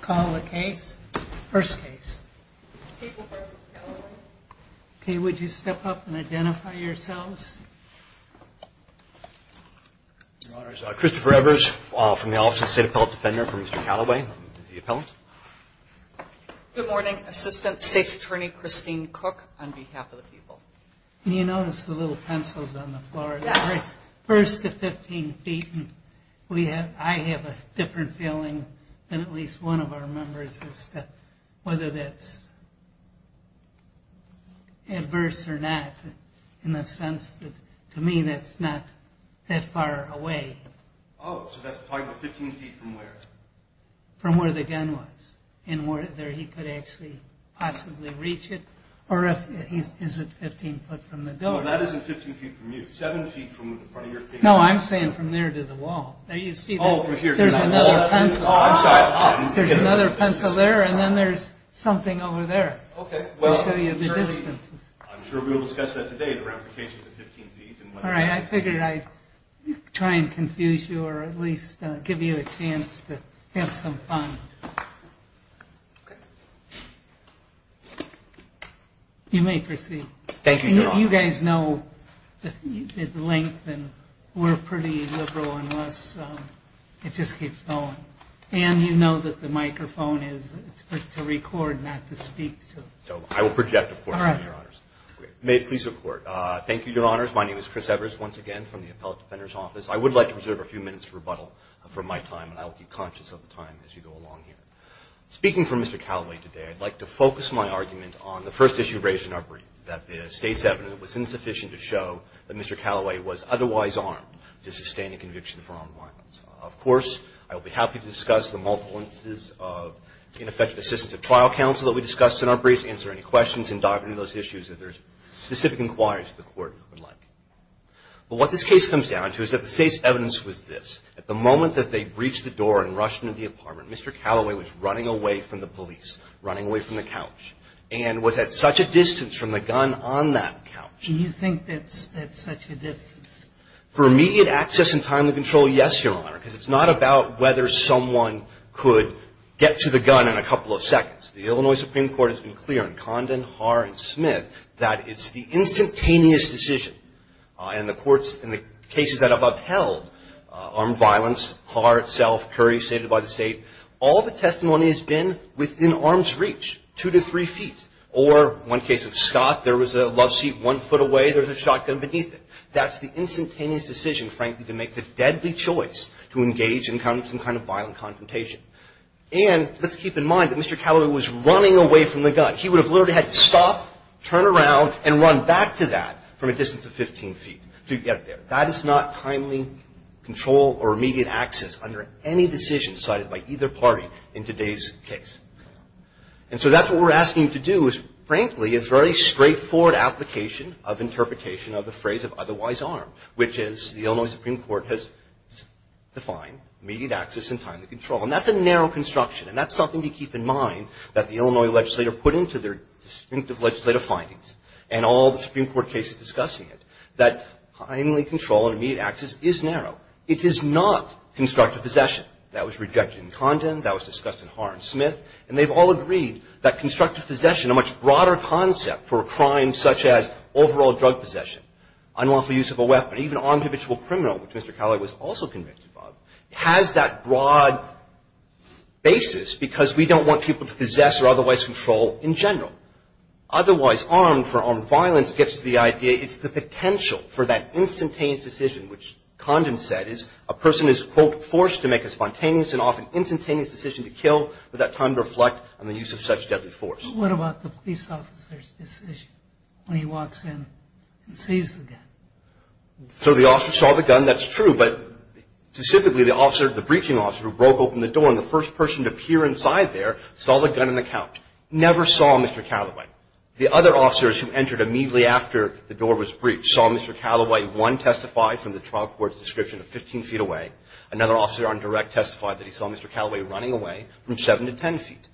Call the case. First case. Okay, would you step up and identify yourselves? Your Honors, Christopher Evers from the Office of the State Appellate Defender for Mr. Calloway, the appellant. Good morning, Assistant State's Attorney Christine Cook on behalf of the people. First, at 15 feet, I have a different feeling than at least one of our members as to whether that's adverse or not. In the sense that, to me, that's not that far away. Oh, so that's talking about 15 feet from where? From where the gun was and whether he could actually possibly reach it. Or is it 15 foot from the door? No, that isn't 15 feet from you. 7 feet from the front of your table. No, I'm saying from there to the wall. There you see, there's another pencil. Oh, I'm sorry. There's another pencil there and then there's something over there. Okay, well, I'm sure we'll discuss that today, the ramifications of 15 feet. All right, I figured I'd try and confuse you or at least give you a chance to have some fun. You may proceed. Thank you, Your Honor. You guys know at length that we're pretty liberal unless it just keeps going. And you know that the microphone is to record, not to speak to. So I will project, of course, Your Honors. May it please the Court. Thank you, Your Honors. My name is Chris Evers, once again, from the Appellate Defender's Office. I would like to reserve a few minutes to rebuttal for my time, and I will keep conscious of the time as you go along here. Speaking for Mr. Callaway today, I'd like to focus my argument on the first issue raised in our brief, that the State's evidence was insufficient to show that Mr. Callaway was otherwise armed to sustain a conviction for armed violence. Of course, I will be happy to discuss the multiple instances of ineffective assistance of trial counsel that we discussed in our brief, answer any questions, and dive into those issues if there's specific inquiries that the Court would like. But what this case comes down to is that the State's evidence was this. At the moment that they breached the door and rushed into the apartment, Mr. Callaway was running away from the police, running away from the couch, and was at such a distance from the gun on that couch. Do you think that's at such a distance? For immediate access and timely control, yes, Your Honor, because it's not about whether someone could get to the gun in a couple of seconds. The Illinois Supreme Court has been clear in Condon, Haar, and Smith that it's the instantaneous decision, and the courts in the cases that have upheld armed violence, Haar itself, Curry, stated by the State, all the testimony has been within arm's reach, two to three feet. Or one case of Scott, there was a love seat one foot away, there was a shotgun beneath it. That's the instantaneous decision, frankly, to make the deadly choice to engage in some kind of violent confrontation. And let's keep in mind that Mr. Callaway was running away from the gun. He would have literally had to stop, turn around, and run back to that from a distance of 15 feet to get there. That is not timely control or immediate access under any decision cited by either party in today's case. And so that's what we're asking you to do is, frankly, it's a very straightforward application of interpretation of the phrase of otherwise armed, which is the Illinois Supreme Court has defined immediate access and timely control. And that's a narrow construction. And that's something to keep in mind that the Illinois legislator put into their distinctive legislative findings, and all the Supreme Court cases discussing it, that timely control and immediate access is narrow. It is not constructive possession. That was rejected in Condon. That was discussed in Haar and Smith. And they've all agreed that constructive possession, a much broader concept for a crime such as overall drug possession, unlawful use of a weapon, even armed habitual criminal, which Mr. Callaway was also convicted of, has that broad basis because we don't want people to possess or otherwise control in general. Otherwise armed for armed violence gets to the idea it's the potential for that instantaneous decision, which Condon said is a person is, quote, forced to make a spontaneous and often instantaneous decision to kill without time to reflect on the use of such deadly force. What about the police officer's decision when he walks in and sees the gun? So the officer saw the gun. That's true. But specifically the officer, the breaching officer, who broke open the door and the first person to peer inside there saw the gun in the couch, never saw Mr. Callaway. The other officers who entered immediately after the door was breached saw Mr. Callaway, one testified from the trial court's description of 15 feet away. Another officer on direct testified that he saw Mr. Callaway running away from 7 to 10 feet.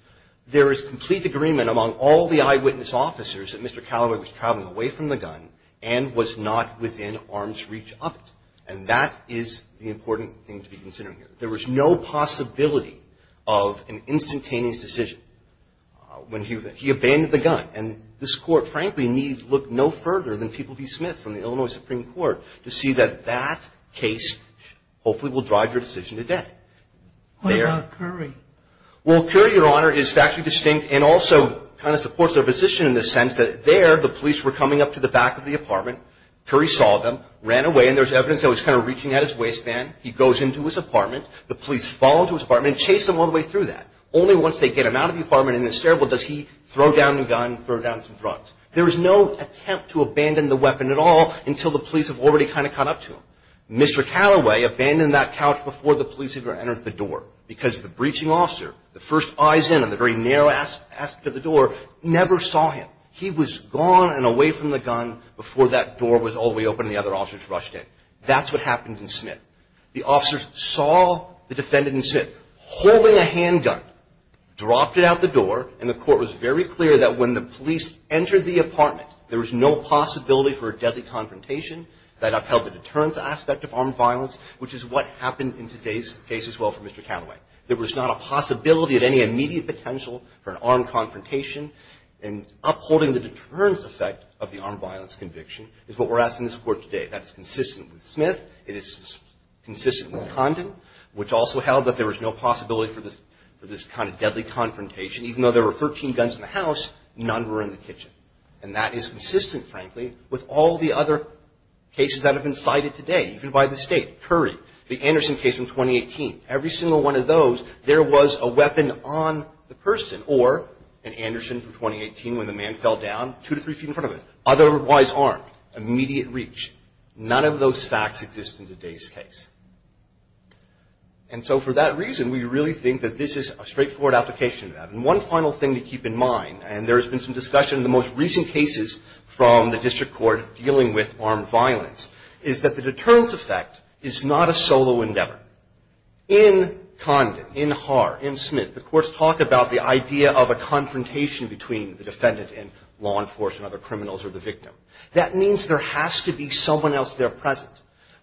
There is complete agreement among all the eyewitness officers that Mr. Callaway was traveling away from the gun and was not within arm's reach of it. And that is the important thing to be considering here. There was no possibility of an instantaneous decision when he abandoned the gun. And this Court, frankly, needs to look no further than People v. Smith from the Illinois Supreme Court to see that that case hopefully will drive your decision today. What about Curry? Well, Curry, Your Honor, is factually distinct and also kind of supports their position in the sense that there the police were coming up to the back of the apartment. Curry saw them, ran away, and there's evidence that he was kind of reaching at his waistband. He goes into his apartment. The police follow him to his apartment and chase him all the way through that. Only once they get him out of the apartment and in the stairwell does he throw down the gun, throw down some drugs. There was no attempt to abandon the weapon at all until the police have already kind of caught up to him. Mr. Callaway abandoned that couch before the police even entered the door because the breaching officer, the first eyes in on the very narrow aspect of the door, never saw him. He was gone and away from the gun before that door was all the way open and the other officers rushed in. That's what happened in Smith. The officers saw the defendant in Smith holding a handgun, dropped it out the door, and the court was very clear that when the police entered the apartment, there was no possibility for a deadly confrontation that upheld the deterrence aspect of armed violence, which is what happened in today's case as well for Mr. Callaway. There was not a possibility of any immediate potential for an armed confrontation, and upholding the deterrence effect of the armed violence conviction is what we're asking the court today. That's consistent with Smith. It is consistent with Condon, which also held that there was no possibility for this kind of deadly confrontation. Even though there were 13 guns in the house, none were in the kitchen. And that is consistent, frankly, with all the other cases that have been cited today, even by the state. Curry, the Anderson case from 2018. Every single one of those, there was a weapon on the person, or an Anderson from 2018 when the man fell down, two to three feet in front of him, otherwise armed, immediate reach. None of those facts exist in today's case. And so for that reason, we really think that this is a straightforward application of that. And one final thing to keep in mind, and there has been some discussion in the most recent cases from the district court dealing with armed violence, is that the deterrence effect is not a solo endeavor. In Condon, in Haar, in Smith, the courts talk about the idea of a confrontation between the defendant and law enforcement, other criminals, or the victim. That means there has to be someone else there present.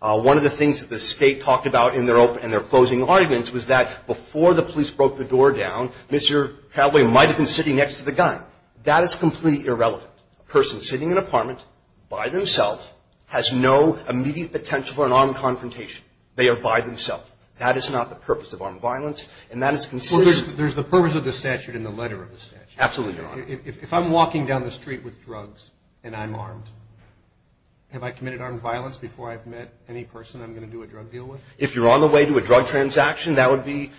One of the things that the state talked about in their closing arguments was that before the police broke the door down, Mr. Calaway might have been sitting next to the gun. That is completely irrelevant. A person sitting in an apartment by themselves has no immediate potential for an armed confrontation. They are by themselves. That is not the purpose of armed violence, and that is consistent. Well, there's the purpose of the statute in the letter of the statute. Absolutely, Your Honor. If I'm walking down the street with drugs and I'm armed, have I committed armed violence before I've met any person I'm going to do a drug deal with? If you're on the way to a drug transaction, that would be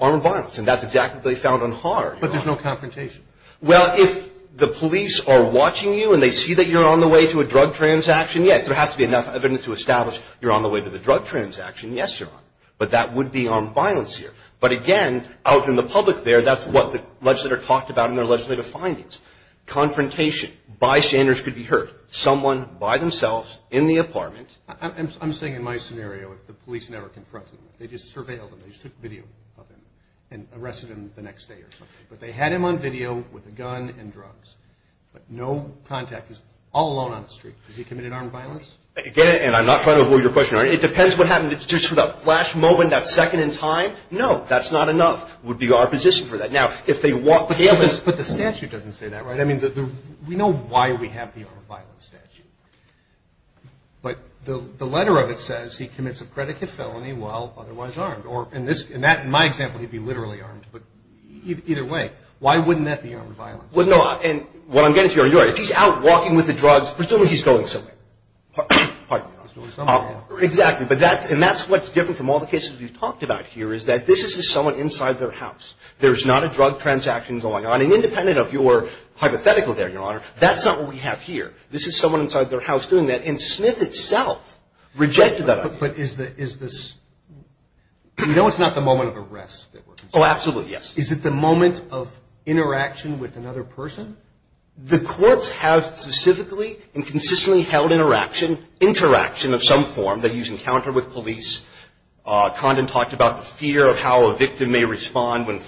armed violence, and that's exactly what they found on Haar. But there's no confrontation. Well, if the police are watching you and they see that you're on the way to a drug transaction, yes. There has to be enough evidence to establish you're on the way to the drug transaction. Yes, Your Honor. But that would be armed violence here. But again, out in the public there, that's what the legislator talked about in their legislative findings. Confrontation bystanders could be hurt. Someone by themselves in the apartment. I'm saying in my scenario if the police never confronted him. They just surveilled him. They just took video of him and arrested him the next day or something. But they had him on video with a gun and drugs. But no contact. He's all alone on the street. Has he committed armed violence? Again, and I'm not trying to avoid your question, Your Honor. It depends what happened. Just for that flash moment, that second in time, no, that's not enough. It would be our position for that. But the statute doesn't say that, right? I mean, we know why we have the armed violence statute. But the letter of it says he commits a predicate felony while otherwise armed. Or in my example, he'd be literally armed. But either way, why wouldn't that be armed violence? Well, no, and what I'm getting to, Your Honor, if he's out walking with the drugs, presumably he's going somewhere. He's going somewhere, yeah. Exactly. And that's what's different from all the cases we've talked about here is that this is just someone inside their house. There's not a drug transaction going on. And independent of your hypothetical there, Your Honor, that's not what we have here. This is someone inside their house doing that, and Smith itself rejected that idea. But is this – you know it's not the moment of arrest that we're considering. Oh, absolutely, yes. Is it the moment of interaction with another person? The courts have specifically and consistently held interaction of some form that you encounter with police. Condon talked about the fear of how a victim may respond when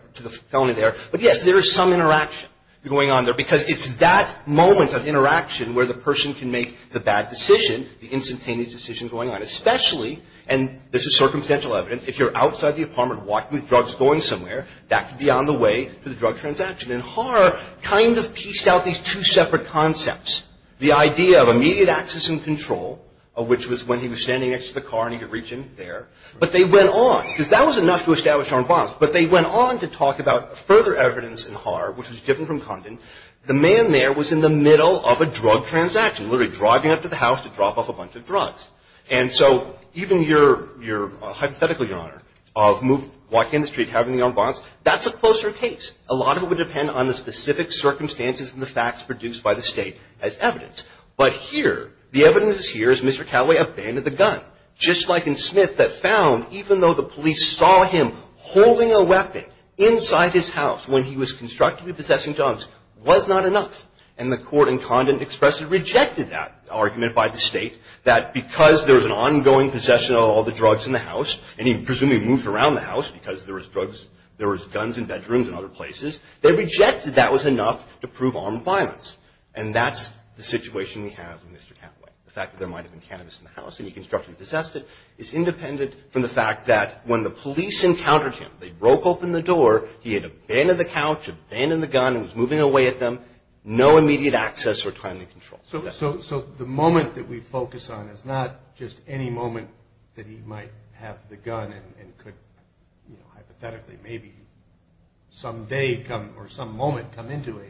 – to the felony there. Right. But yes, there is some interaction going on there because it's that moment of interaction where the person can make the bad decision, the instantaneous decision going on, especially – and this is circumstantial evidence. If you're outside the apartment walking with drugs going somewhere, that could be on the way to the drug transaction. And Haar kind of pieced out these two separate concepts, the idea of immediate access and control, which was when he was standing next to the car and he could reach in there. But they went on, because that was enough to establish armed violence. But they went on to talk about further evidence in Haar, which was different from Condon. The man there was in the middle of a drug transaction, literally driving up to the house to drop off a bunch of drugs. And so even your hypothetical, Your Honor, of walking in the street, having the armed violence, that's a closer case. A lot of it would depend on the specific circumstances and the facts produced by the State as evidence. But here, the evidence is here is Mr. Calloway abandoned the gun, just like in Smith, that found even though the police saw him holding a weapon inside his house when he was constructively possessing drugs, was not enough. And the court in Condon expressly rejected that argument by the State, that because there was an ongoing possession of all the drugs in the house, and he presumably moved around the house because there was drugs – there was guns in bedrooms and other places, they rejected that was enough to prove armed violence. And that's the situation we have with Mr. Calloway. The fact that there might have been cannabis in the house, and he constructively possessed it, is independent from the fact that when the police encountered him, they broke open the door, he had abandoned the couch, abandoned the gun, and was moving away at them. No immediate access or timely control. So the moment that we focus on is not just any moment that he might have the gun and could hypothetically maybe someday or some moment come into a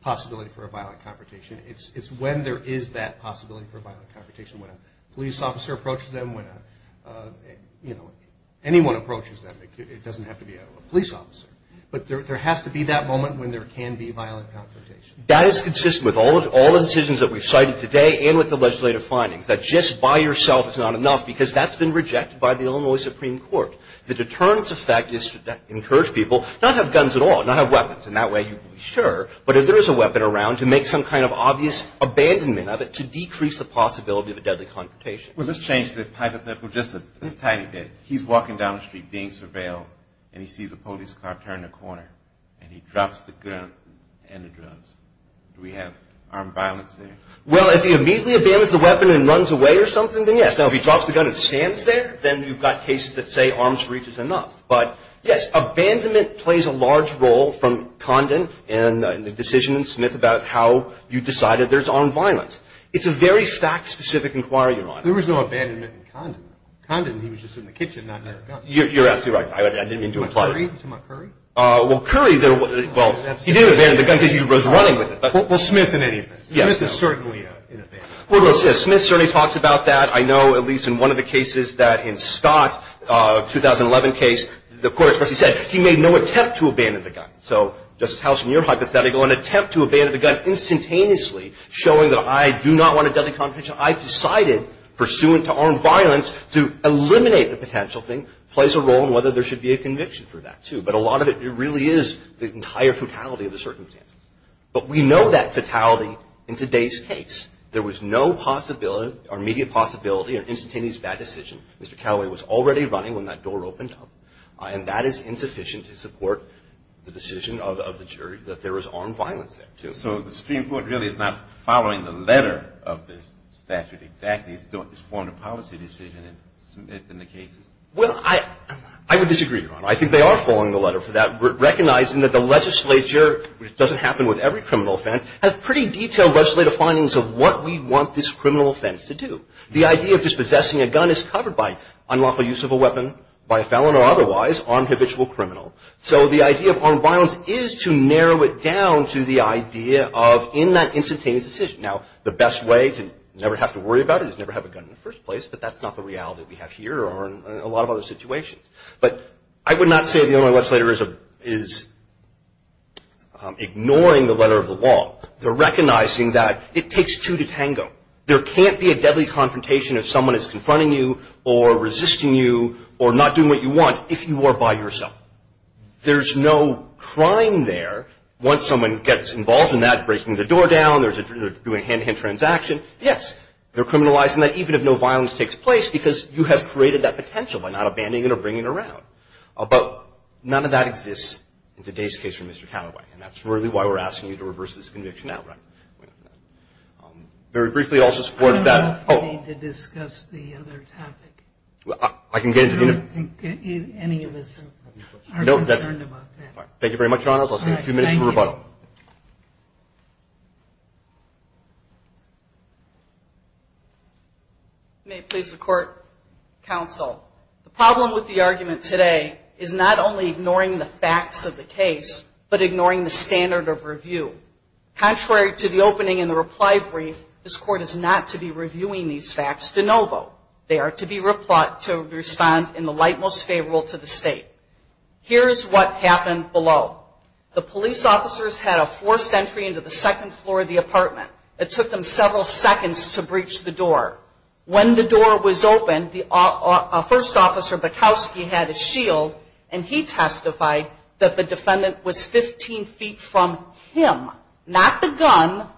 possibility for a violent confrontation. It's when there is that possibility for a violent confrontation, when a police officer approaches them, when anyone approaches them. It doesn't have to be a police officer. But there has to be that moment when there can be violent confrontation. That is consistent with all the decisions that we've cited today and with the legislative findings, that just by yourself is not enough because that's been rejected by the Illinois Supreme Court. The deterrence effect is to encourage people not to have guns at all, not have weapons, and that way you can be sure. But if there is a weapon around, to make some kind of obvious abandonment of it to decrease the possibility of a deadly confrontation. Well, let's change the hypothetical just a tiny bit. He's walking down the street being surveilled, and he sees a police car turn a corner, and he drops the gun and the drugs. Do we have armed violence there? Well, if he immediately abandons the weapon and runs away or something, then yes. Now, if he drops the gun and stands there, then you've got cases that say arms reach is enough. But, yes, abandonment plays a large role from Condon and the decision in Smith about how you decided there's armed violence. It's a very fact-specific inquiry you're on. There was no abandonment in Condon. Condon, he was just in the kitchen, not near a gun. You're absolutely right. I didn't mean to imply that. You're talking about Curry? Well, Curry, well, he didn't abandon the gun because he was running with it. Well, Smith in any event. Smith is certainly in abandonment. Well, Smith certainly talks about that. I know, at least in one of the cases, that in Scott, a 2011 case, of course, what he said, he made no attempt to abandon the gun. So, Justice Howson, your hypothetical, an attempt to abandon the gun instantaneously, showing that I do not want a deadly confrontation, I decided pursuant to armed violence to eliminate the potential thing, plays a role in whether there should be a conviction for that, too. But a lot of it really is the entire totality of the circumstance. But we know that totality in today's case. There was no possibility or immediate possibility of instantaneous bad decision. Mr. Calaway was already running when that door opened up. And that is insufficient to support the decision of the jury that there was armed violence there, too. So the Supreme Court really is not following the letter of this statute exactly. It's formed a policy decision in Smith and the cases. Well, I would disagree, Your Honor. I think they are following the letter for that, recognizing that the legislature, which doesn't happen with every criminal offense, has pretty detailed legislative findings of what we want this criminal offense to do. The idea of dispossessing a gun is covered by unlawful use of a weapon by a felon or otherwise on habitual criminal. So the idea of armed violence is to narrow it down to the idea of in that instantaneous decision. Now, the best way to never have to worry about it is never have a gun in the first place, but that's not the reality we have here or in a lot of other situations. But I would not say the only legislator is ignoring the letter of the law. They're recognizing that it takes two to tango. There can't be a deadly confrontation if someone is confronting you or resisting you or not doing what you want if you are by yourself. There's no crime there once someone gets involved in that, breaking the door down. They're doing a hand-to-hand transaction. Yes, they're criminalizing that, even if no violence takes place, because you have created that potential by not abandoning it or bringing it around. But none of that exists in today's case for Mr. Calaway, and that's really why we're asking you to reverse this conviction outright. Very briefly, also supports that. I don't think we need to discuss the other topic. I can get into it. I don't think any of us are concerned about that. Thank you very much, Your Honors. I'll take a few minutes for rebuttal. Thank you. May it please the Court, Counsel. The problem with the argument today is not only ignoring the facts of the case, but ignoring the standard of review. Contrary to the opening in the reply brief, this Court is not to be reviewing these facts de novo. They are to be responded in the light most favorable to the State. Here is what happened below. The police officers had a forced entry into the second floor of the apartment. It took them several seconds to breach the door. When the door was opened, the first officer, Bukowski, had his shield, and he testified that the defendant was 15 feet from him, not the gun,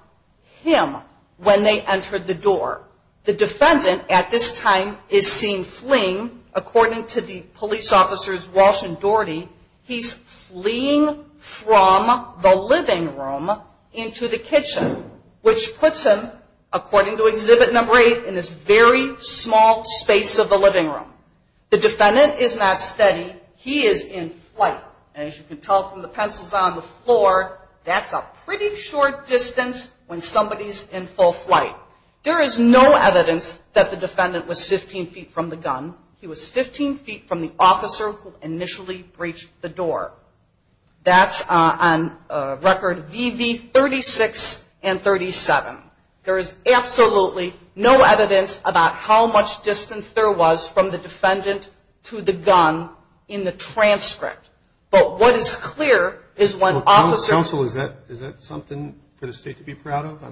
him, when they entered the door. The defendant, at this time, is seen fleeing. According to the police officers Walsh and Doherty, he's fleeing from the living room into the kitchen, which puts him, according to exhibit number eight, in this very small space of the living room. The defendant is not steady. He is in flight. As you can tell from the pencils on the floor, that's a pretty short distance when somebody's in full flight. There is no evidence that the defendant was 15 feet from the gun. He was 15 feet from the officer who initially breached the door. That's on record VV 36 and 37. There is absolutely no evidence about how much distance there was from the defendant to the gun in the transcript. But what is clear is when officers – Well, counsel, is that something for the State to be proud of?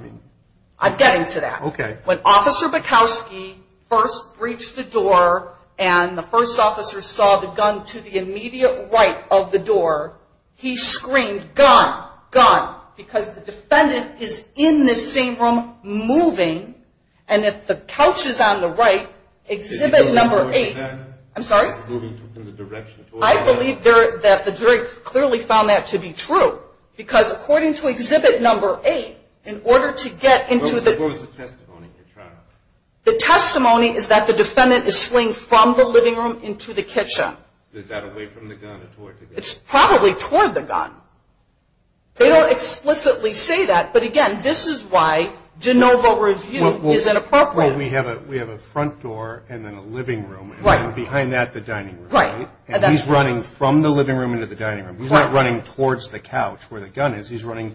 I'm getting to that. When Officer Bukowski first breached the door and the first officer saw the gun to the immediate right of the door, he screamed, gun, gun. Because the defendant is in this same room moving, and if the couch is on the right, exhibit number eight – I'm sorry? I believe that the jury clearly found that to be true. Because according to exhibit number eight, in order to get into the – What was the testimony you're trying to – The testimony is that the defendant is fleeing from the living room into the kitchen. Is that away from the gun or toward the gun? It's probably toward the gun. They don't explicitly say that. But again, this is why de novo review is inappropriate. Well, we have a front door and then a living room. Right. And behind that, the dining room. Right. And he's running from the living room into the dining room. He's not running towards the couch where the gun is. He's running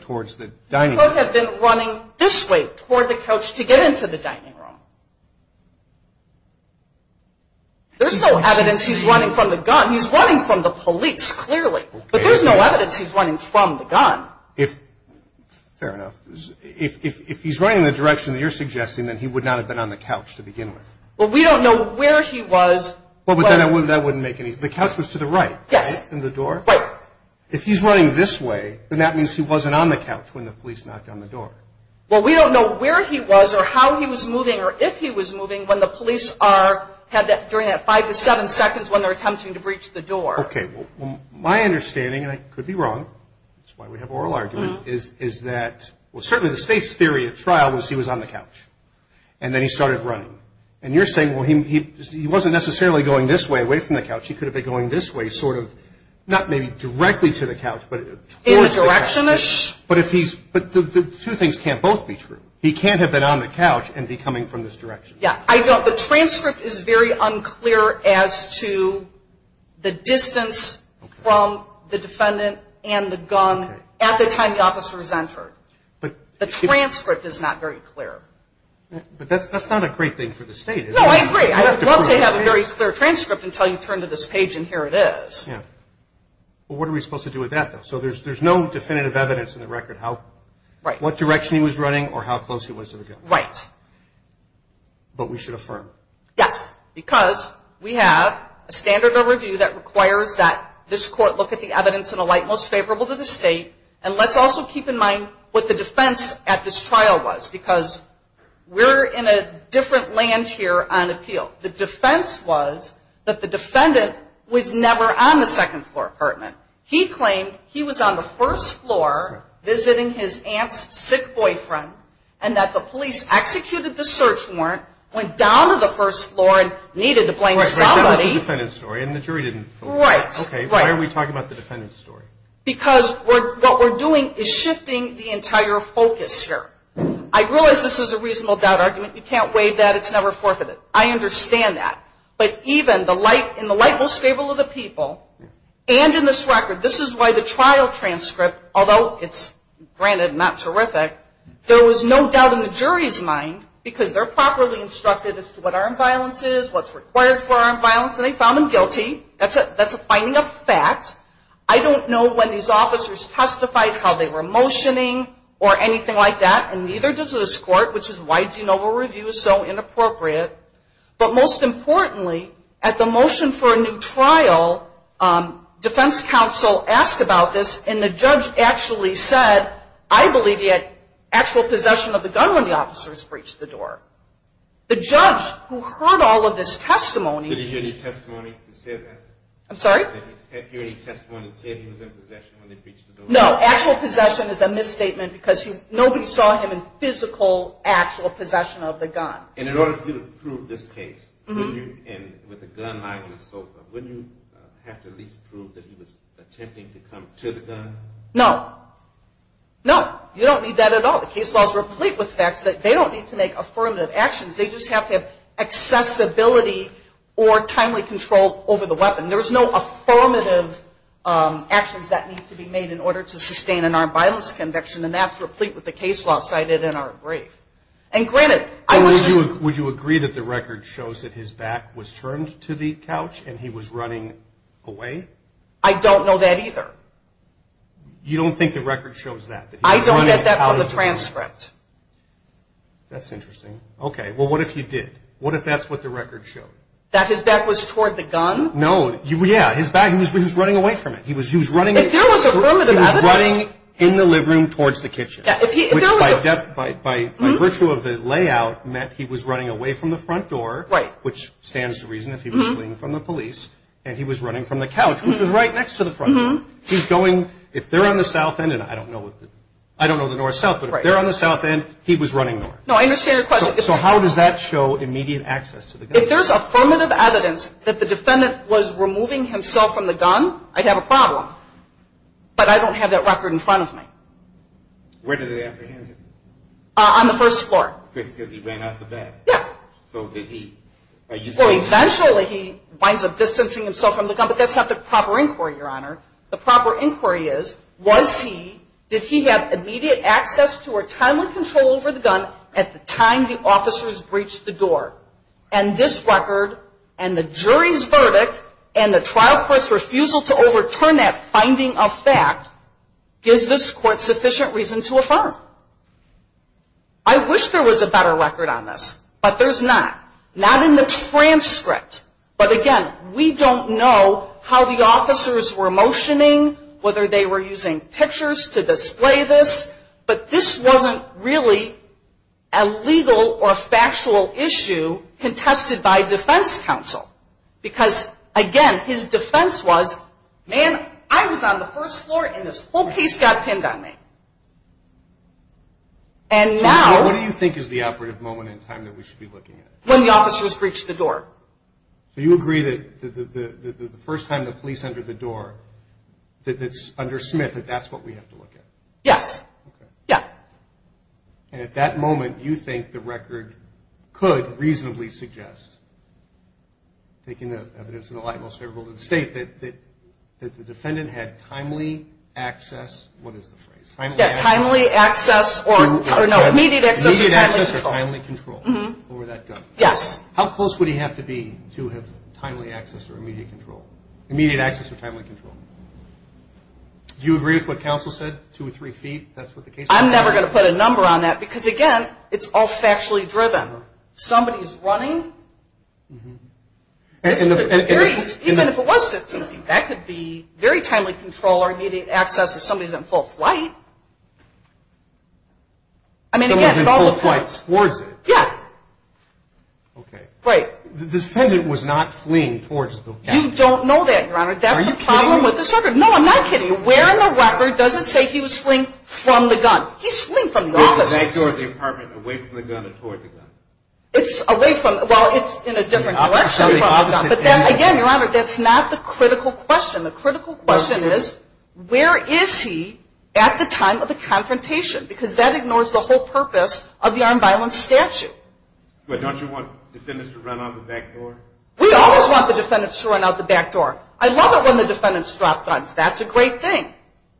towards the dining room. He could have been running this way toward the couch to get into the dining room. There's no evidence he's running from the gun. He's running from the police, clearly. But there's no evidence he's running from the gun. Fair enough. If he's running in the direction that you're suggesting, then he would not have been on the couch to begin with. Well, we don't know where he was. Well, but then that wouldn't make any – the couch was to the right. Yes. And the door. Right. If he's running this way, then that means he wasn't on the couch when the police knocked on the door. Well, we don't know where he was or how he was moving or if he was moving when the police are – during that five to seven seconds when they're attempting to breach the door. Okay. Well, my understanding, and I could be wrong, that's why we have oral argument, is that – well, certainly the state's theory at trial was he was on the couch and then he started running. And you're saying, well, he wasn't necessarily going this way, away from the couch. He could have been going this way sort of – not maybe directly to the couch, but towards the couch. In the direction-ish. But if he's – but the two things can't both be true. He can't have been on the couch and be coming from this direction. Yeah. I don't – the transcript is very unclear as to the distance from the defendant and the gun at the time the officer was entered. The transcript is not very clear. But that's not a great thing for the state. No, I agree. I would love to have a very clear transcript until you turn to this page and here it is. Yeah. Well, what are we supposed to do with that, though? So there's no definitive evidence in the record how – what direction he was running or how close he was to the gun. Right. But we should affirm. Yes, because we have a standard of review that requires that this court look at the evidence in a light most favorable to the state. And let's also keep in mind what the defense at this trial was, because we're in a different land here on appeal. The defense was that the defendant was never on the second floor apartment. He claimed he was on the first floor visiting his aunt's sick boyfriend and that the police executed the search warrant, went down to the first floor and needed to blame somebody. Right, but that was the defendant's story and the jury didn't vote. Right. Okay, why are we talking about the defendant's story? Because what we're doing is shifting the entire focus here. I realize this is a reasonable doubt argument. You can't waive that. It's never forfeited. I understand that. But even in the light most favorable to the people and in this record, this is why the trial transcript, although it's, granted, not terrific, there was no doubt in the jury's mind because they're properly instructed as to what armed violence is, what's required for armed violence, and they found him guilty. That's a finding of fact. I don't know when these officers testified, how they were motioning or anything like that, and neither does this court, which is why do you know a review is so inappropriate. But most importantly, at the motion for a new trial, defense counsel asked about this and the judge actually said, I believe he had actual possession of the gun when the officers breached the door. The judge who heard all of this testimony. Did he hear any testimony that said that? I'm sorry? Did he hear any testimony that said he was in possession when they breached the door? No. Actual possession is a misstatement because nobody saw him in physical, actual possession of the gun. And in order for you to prove this case, and with a gun lying on the sofa, wouldn't you have to at least prove that he was attempting to come to the gun? No. No. You don't need that at all. The case law is replete with facts that they don't need to make affirmative actions. They just have to have accessibility or timely control over the weapon. There's no affirmative actions that need to be made in order to sustain an armed violence conviction, and that's replete with the case law cited in our brief. And granted, I was just. Would you agree that the record shows that his back was turned to the couch and he was running away? I don't know that either. You don't think the record shows that? I don't get that from the transcript. That's interesting. Okay. Well, what if you did? What if that's what the record showed? That his back was toward the gun? No. Yeah, his back. He was running away from it. He was running. If there was affirmative evidence. He was running in the living room towards the kitchen. Yeah, if he. Which by virtue of the layout meant he was running away from the front door. Right. Which stands to reason if he was fleeing from the police and he was running from the couch, which was right next to the front door. He's going. If they're on the south end, and I don't know the north-south, but if they're No, I understand your question. So how does that show immediate access to the gun? If there's affirmative evidence that the defendant was removing himself from the gun, I'd have a problem. But I don't have that record in front of me. Where did they apprehend him? On the first floor. Because he ran out the back? Yeah. So did he. Well, eventually he winds up distancing himself from the gun, but that's not the proper inquiry, Your Honor. The proper inquiry is, was he, did he have immediate access to or timely control over the gun at the time the officers breached the door? And this record and the jury's verdict and the trial court's refusal to overturn that finding of fact gives this court sufficient reason to affirm. I wish there was a better record on this, but there's not. Not in the transcript. But again, we don't know how the officers were motioning, whether they were using pictures to display this, but this wasn't really a legal or factual issue contested by defense counsel. Because, again, his defense was, man, I was on the first floor and this whole case got pinned on me. And now. What do you think is the operative moment in time that we should be looking at? When the officers breached the door. So you agree that the first time the police entered the door, that it's under Smith, that that's what we have to look at? Yes. Okay. Yeah. And at that moment, you think the record could reasonably suggest, taking the evidence in the light most favorable to the state, that the defendant had timely access. What is the phrase? Timely access. Timely access or immediate access or timely control. Immediate access or timely control. Mm-hmm. Over that gun. Yes. How close would he have to be to have timely access or immediate control? Immediate access or timely control. Do you agree with what counsel said? Two or three feet? I'm never going to put a number on that. Because, again, it's all factually driven. Somebody's running. Even if it was 15 feet, that could be very timely control or immediate access if somebody's in full flight. I mean, again, it all depends. Someone's in full flight towards it? Yeah. Okay. Right. The defendant was not fleeing towards the gun. You don't know that, Your Honor. That's the problem with the circuit. Are you kidding me? No, I'm not kidding you. And where in the record does it say he was fleeing from the gun? He's fleeing from the officers. He was in the back door of the apartment, away from the gun, and toward the gun. It's away from the gun. Well, it's in a different collection from the gun. But then, again, Your Honor, that's not the critical question. The critical question is, where is he at the time of the confrontation? Because that ignores the whole purpose of the armed violence statute. But don't you want defendants to run out the back door? We always want the defendants to run out the back door. I love it when the defendants drop guns. That's a great thing.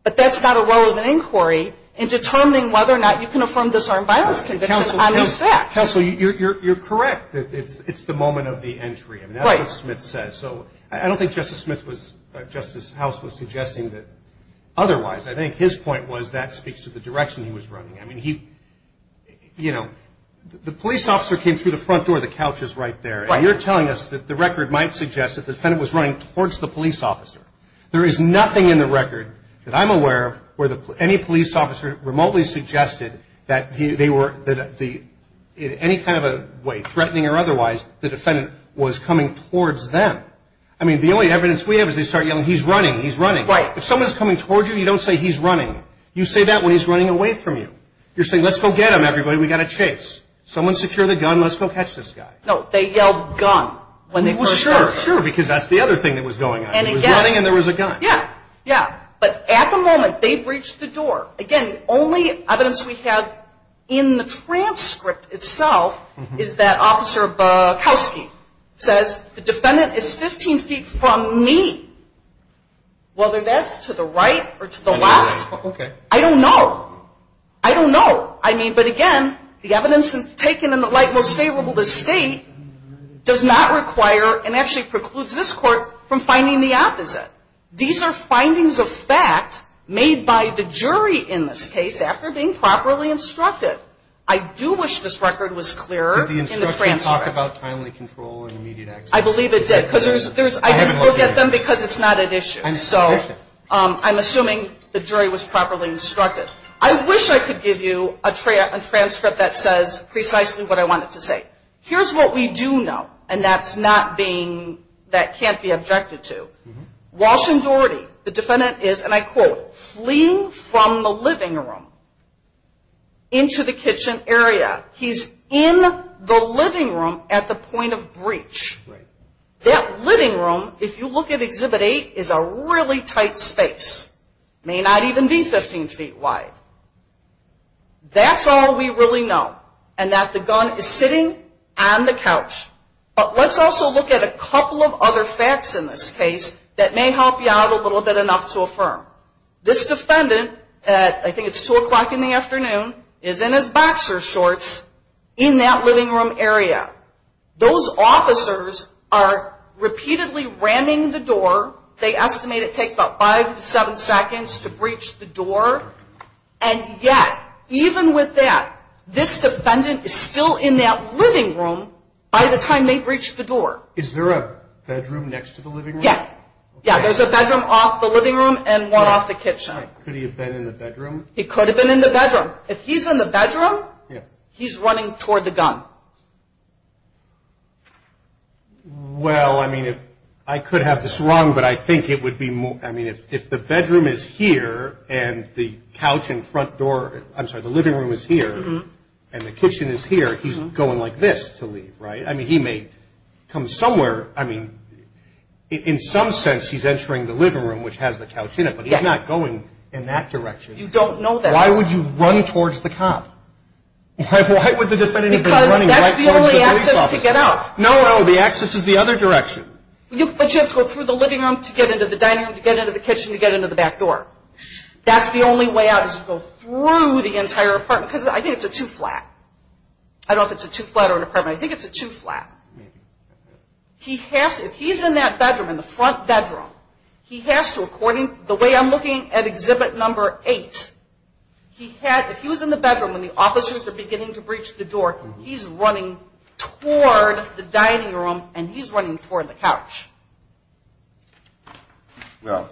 But that's not a relevant inquiry in determining whether or not you can affirm this armed violence conviction on these facts. Counsel, you're correct that it's the moment of the entry. Right. I mean, that's what Smith says. So I don't think Justice House was suggesting that otherwise. I think his point was that speaks to the direction he was running. I mean, he, you know, the police officer came through the front door. The couch is right there. Right. And you're telling us that the record might suggest that the defendant was running towards the police officer. There is nothing in the record that I'm aware of where any police officer remotely suggested that they were, in any kind of a way, threatening or otherwise, the defendant was coming towards them. I mean, the only evidence we have is they start yelling, he's running, he's running. Right. If someone's coming towards you, you don't say he's running. You say that when he's running away from you. You're saying, let's go get him, everybody. We've got to chase. Someone secure the gun. Let's go catch this guy. No, they yelled gun when they first got to him. Sure, sure, because that's the other thing that was going on. He was running and there was a gun. Yeah, yeah. But at the moment, they breached the door. Again, the only evidence we have in the transcript itself is that Officer Bukowski says the defendant is 15 feet from me, whether that's to the right or to the left. Okay. I don't know. I don't know. I mean, but again, the evidence taken in the light most favorable to state does not require and actually precludes this court from finding the opposite. These are findings of fact made by the jury in this case after being properly instructed. I do wish this record was clearer in the transcript. Did the instruction talk about timely control and immediate access? I believe it did. I didn't look at them because it's not at issue. I'm assuming the jury was properly instructed. I wish I could give you a transcript that says precisely what I wanted to say. Here's what we do know, and that can't be objected to. Walsh and Doherty, the defendant is, and I quote, fleeing from the living room into the kitchen area. He's in the living room at the point of breach. That living room, if you look at Exhibit 8, is a really tight space. It may not even be 15 feet wide. That's all we really know, and that the gun is sitting on the couch. But let's also look at a couple of other facts in this case that may help you out a little bit enough to affirm. This defendant, I think it's 2 o'clock in the afternoon, is in his boxer shorts in that living room area. Those officers are repeatedly ramming the door. They estimate it takes about 5 to 7 seconds to breach the door. And yet, even with that, this defendant is still in that living room by the time they breached the door. Is there a bedroom next to the living room? Yeah. There's a bedroom off the living room and one off the kitchen. Could he have been in the bedroom? He could have been in the bedroom. If he's in the bedroom, he's running toward the gun. Well, I mean, I could have this wrong, but I think it would be more, I mean, if the bedroom is here and the couch in front door, I'm sorry, the living room is here and the kitchen is here, he's going like this to leave, right? I mean, he may come somewhere. I mean, in some sense, he's entering the living room, which has the couch in it, but he's not going in that direction. You don't know that. Why would you run towards the cop? Because that's the only access to get out. No, no, the access is the other direction. But you have to go through the living room to get into the dining room, to get into the kitchen, to get into the back door. That's the only way out is to go through the entire apartment, because I think it's a two-flat. I don't know if it's a two-flat or an apartment. I think it's a two-flat. If he's in that bedroom, in the front bedroom, he has to, according to the way I'm looking at exhibit number eight, if he was in the bedroom when the officers were beginning to breach the door, he's running toward the dining room and he's running toward the couch. Well,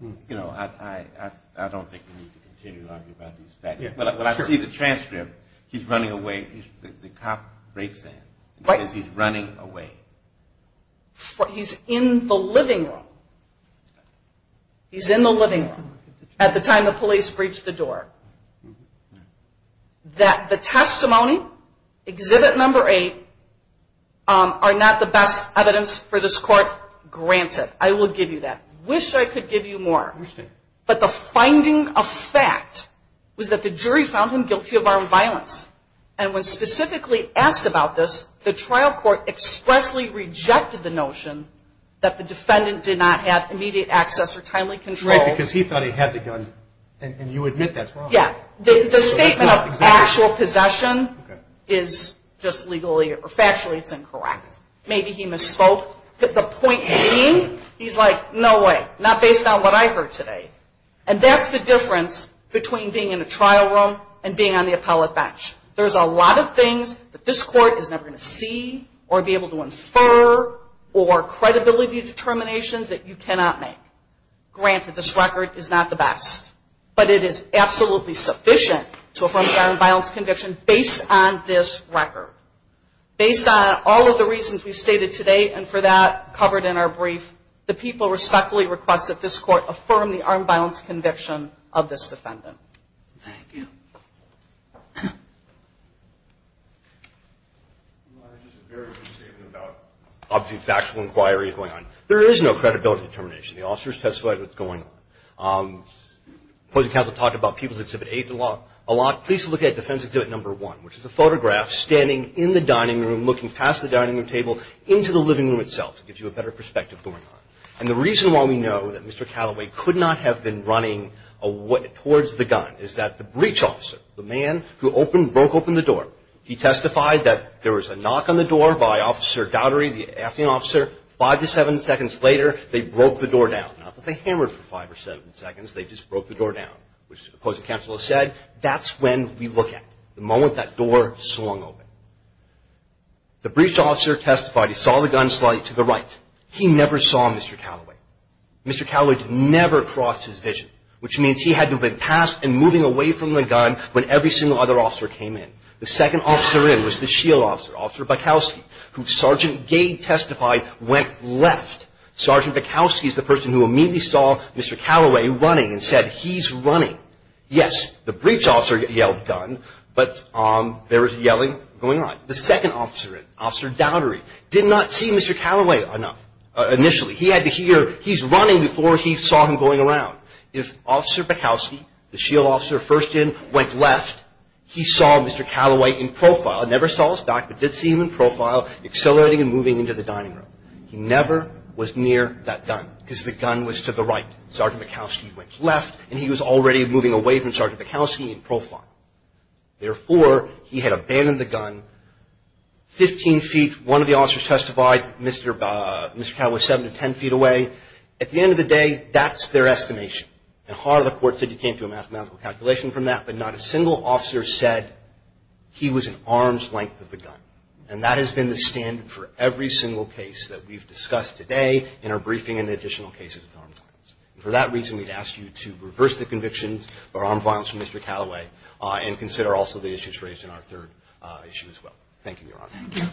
you know, I don't think we need to continue to argue about these facts. When I see the transcript, he's running away. The cop breaks in because he's running away. He's in the living room. He's in the living room. At the time the police breached the door. That the testimony, exhibit number eight, are not the best evidence for this court, granted. I will give you that. Wish I could give you more. But the finding of fact was that the jury found him guilty of armed violence. And when specifically asked about this, the trial court expressly rejected the notion that the defendant did not have immediate access or timely control. Right, because he thought he had the gun. And you admit that's wrong. Yeah. The statement of actual possession is just legally, or factually, it's incorrect. Maybe he misspoke. The point being, he's like, no way. Not based on what I heard today. And that's the difference between being in a trial room and being on the appellate bench. There's a lot of things that this court is never going to see or be able to infer or credibility determinations that you cannot make. Granted, this record is not the best. But it is absolutely sufficient to affirm the armed violence conviction based on this record. Based on all of the reasons we've stated today, and for that covered in our brief, the people respectfully request that this court affirm the armed violence conviction of this defendant. Thank you. Your Honor, this is a very good statement about, obviously, factual inquiry going on. There is no credibility determination. The officers testified what's going on. The opposing counsel talked about people's exhibit eight a lot. Please look at defense exhibit number one, which is a photograph standing in the dining room, looking past the dining room table into the living room itself. It gives you a better perspective of what's going on. And the reason why we know that Mr. Calloway could not have been running towards the gun is that the breach officer, the man who opened, broke open the door. He testified that there was a knock on the door by Officer Gowdery, the acting officer. Five to seven seconds later, they broke the door down. Not that they hammered for five or seven seconds. They just broke the door down, which the opposing counsel has said. That's when we look at it, the moment that door swung open. The breach officer testified he saw the gun slide to the right. He never saw Mr. Calloway. Mr. Calloway never crossed his vision, which means he had to have been past and moving away from the gun when every single other officer came in. The second officer in was the shield officer, Officer Bukowski, who Sergeant Gade testified went left. Sergeant Bukowski is the person who immediately saw Mr. Calloway running and said he's running. Yes, the breach officer yelled gun, but there was yelling going on. The second officer in, Officer Gowdery, did not see Mr. Calloway enough. Initially. He had to hear he's running before he saw him going around. If Officer Bukowski, the shield officer first in, went left, he saw Mr. Calloway in profile. Never saw his back, but did see him in profile, accelerating and moving into the dining room. He never was near that gun because the gun was to the right. Sergeant Bukowski went left, and he was already moving away from Sergeant Bukowski in profile. Therefore, he had abandoned the gun. Fifteen feet, one of the officers testified Mr. Calloway was seven to ten feet away. At the end of the day, that's their estimation. A part of the court said you came to a mathematical calculation from that, but not a single officer said he was an arm's length of the gun. And that has been the standard for every single case that we've discussed today in our briefing and the additional cases of armed violence. And for that reason, we'd ask you to reverse the convictions of armed violence for Mr. Calloway and consider also the issues raised in our third issue as well. Thank you, Your Honor. Thank you.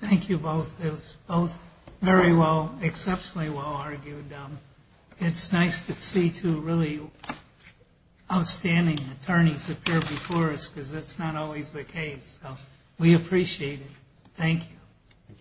Thank you both. It was both very well, exceptionally well argued. It's nice to see two really outstanding attorneys appear before us because that's not always the case. We appreciate it. Thank you.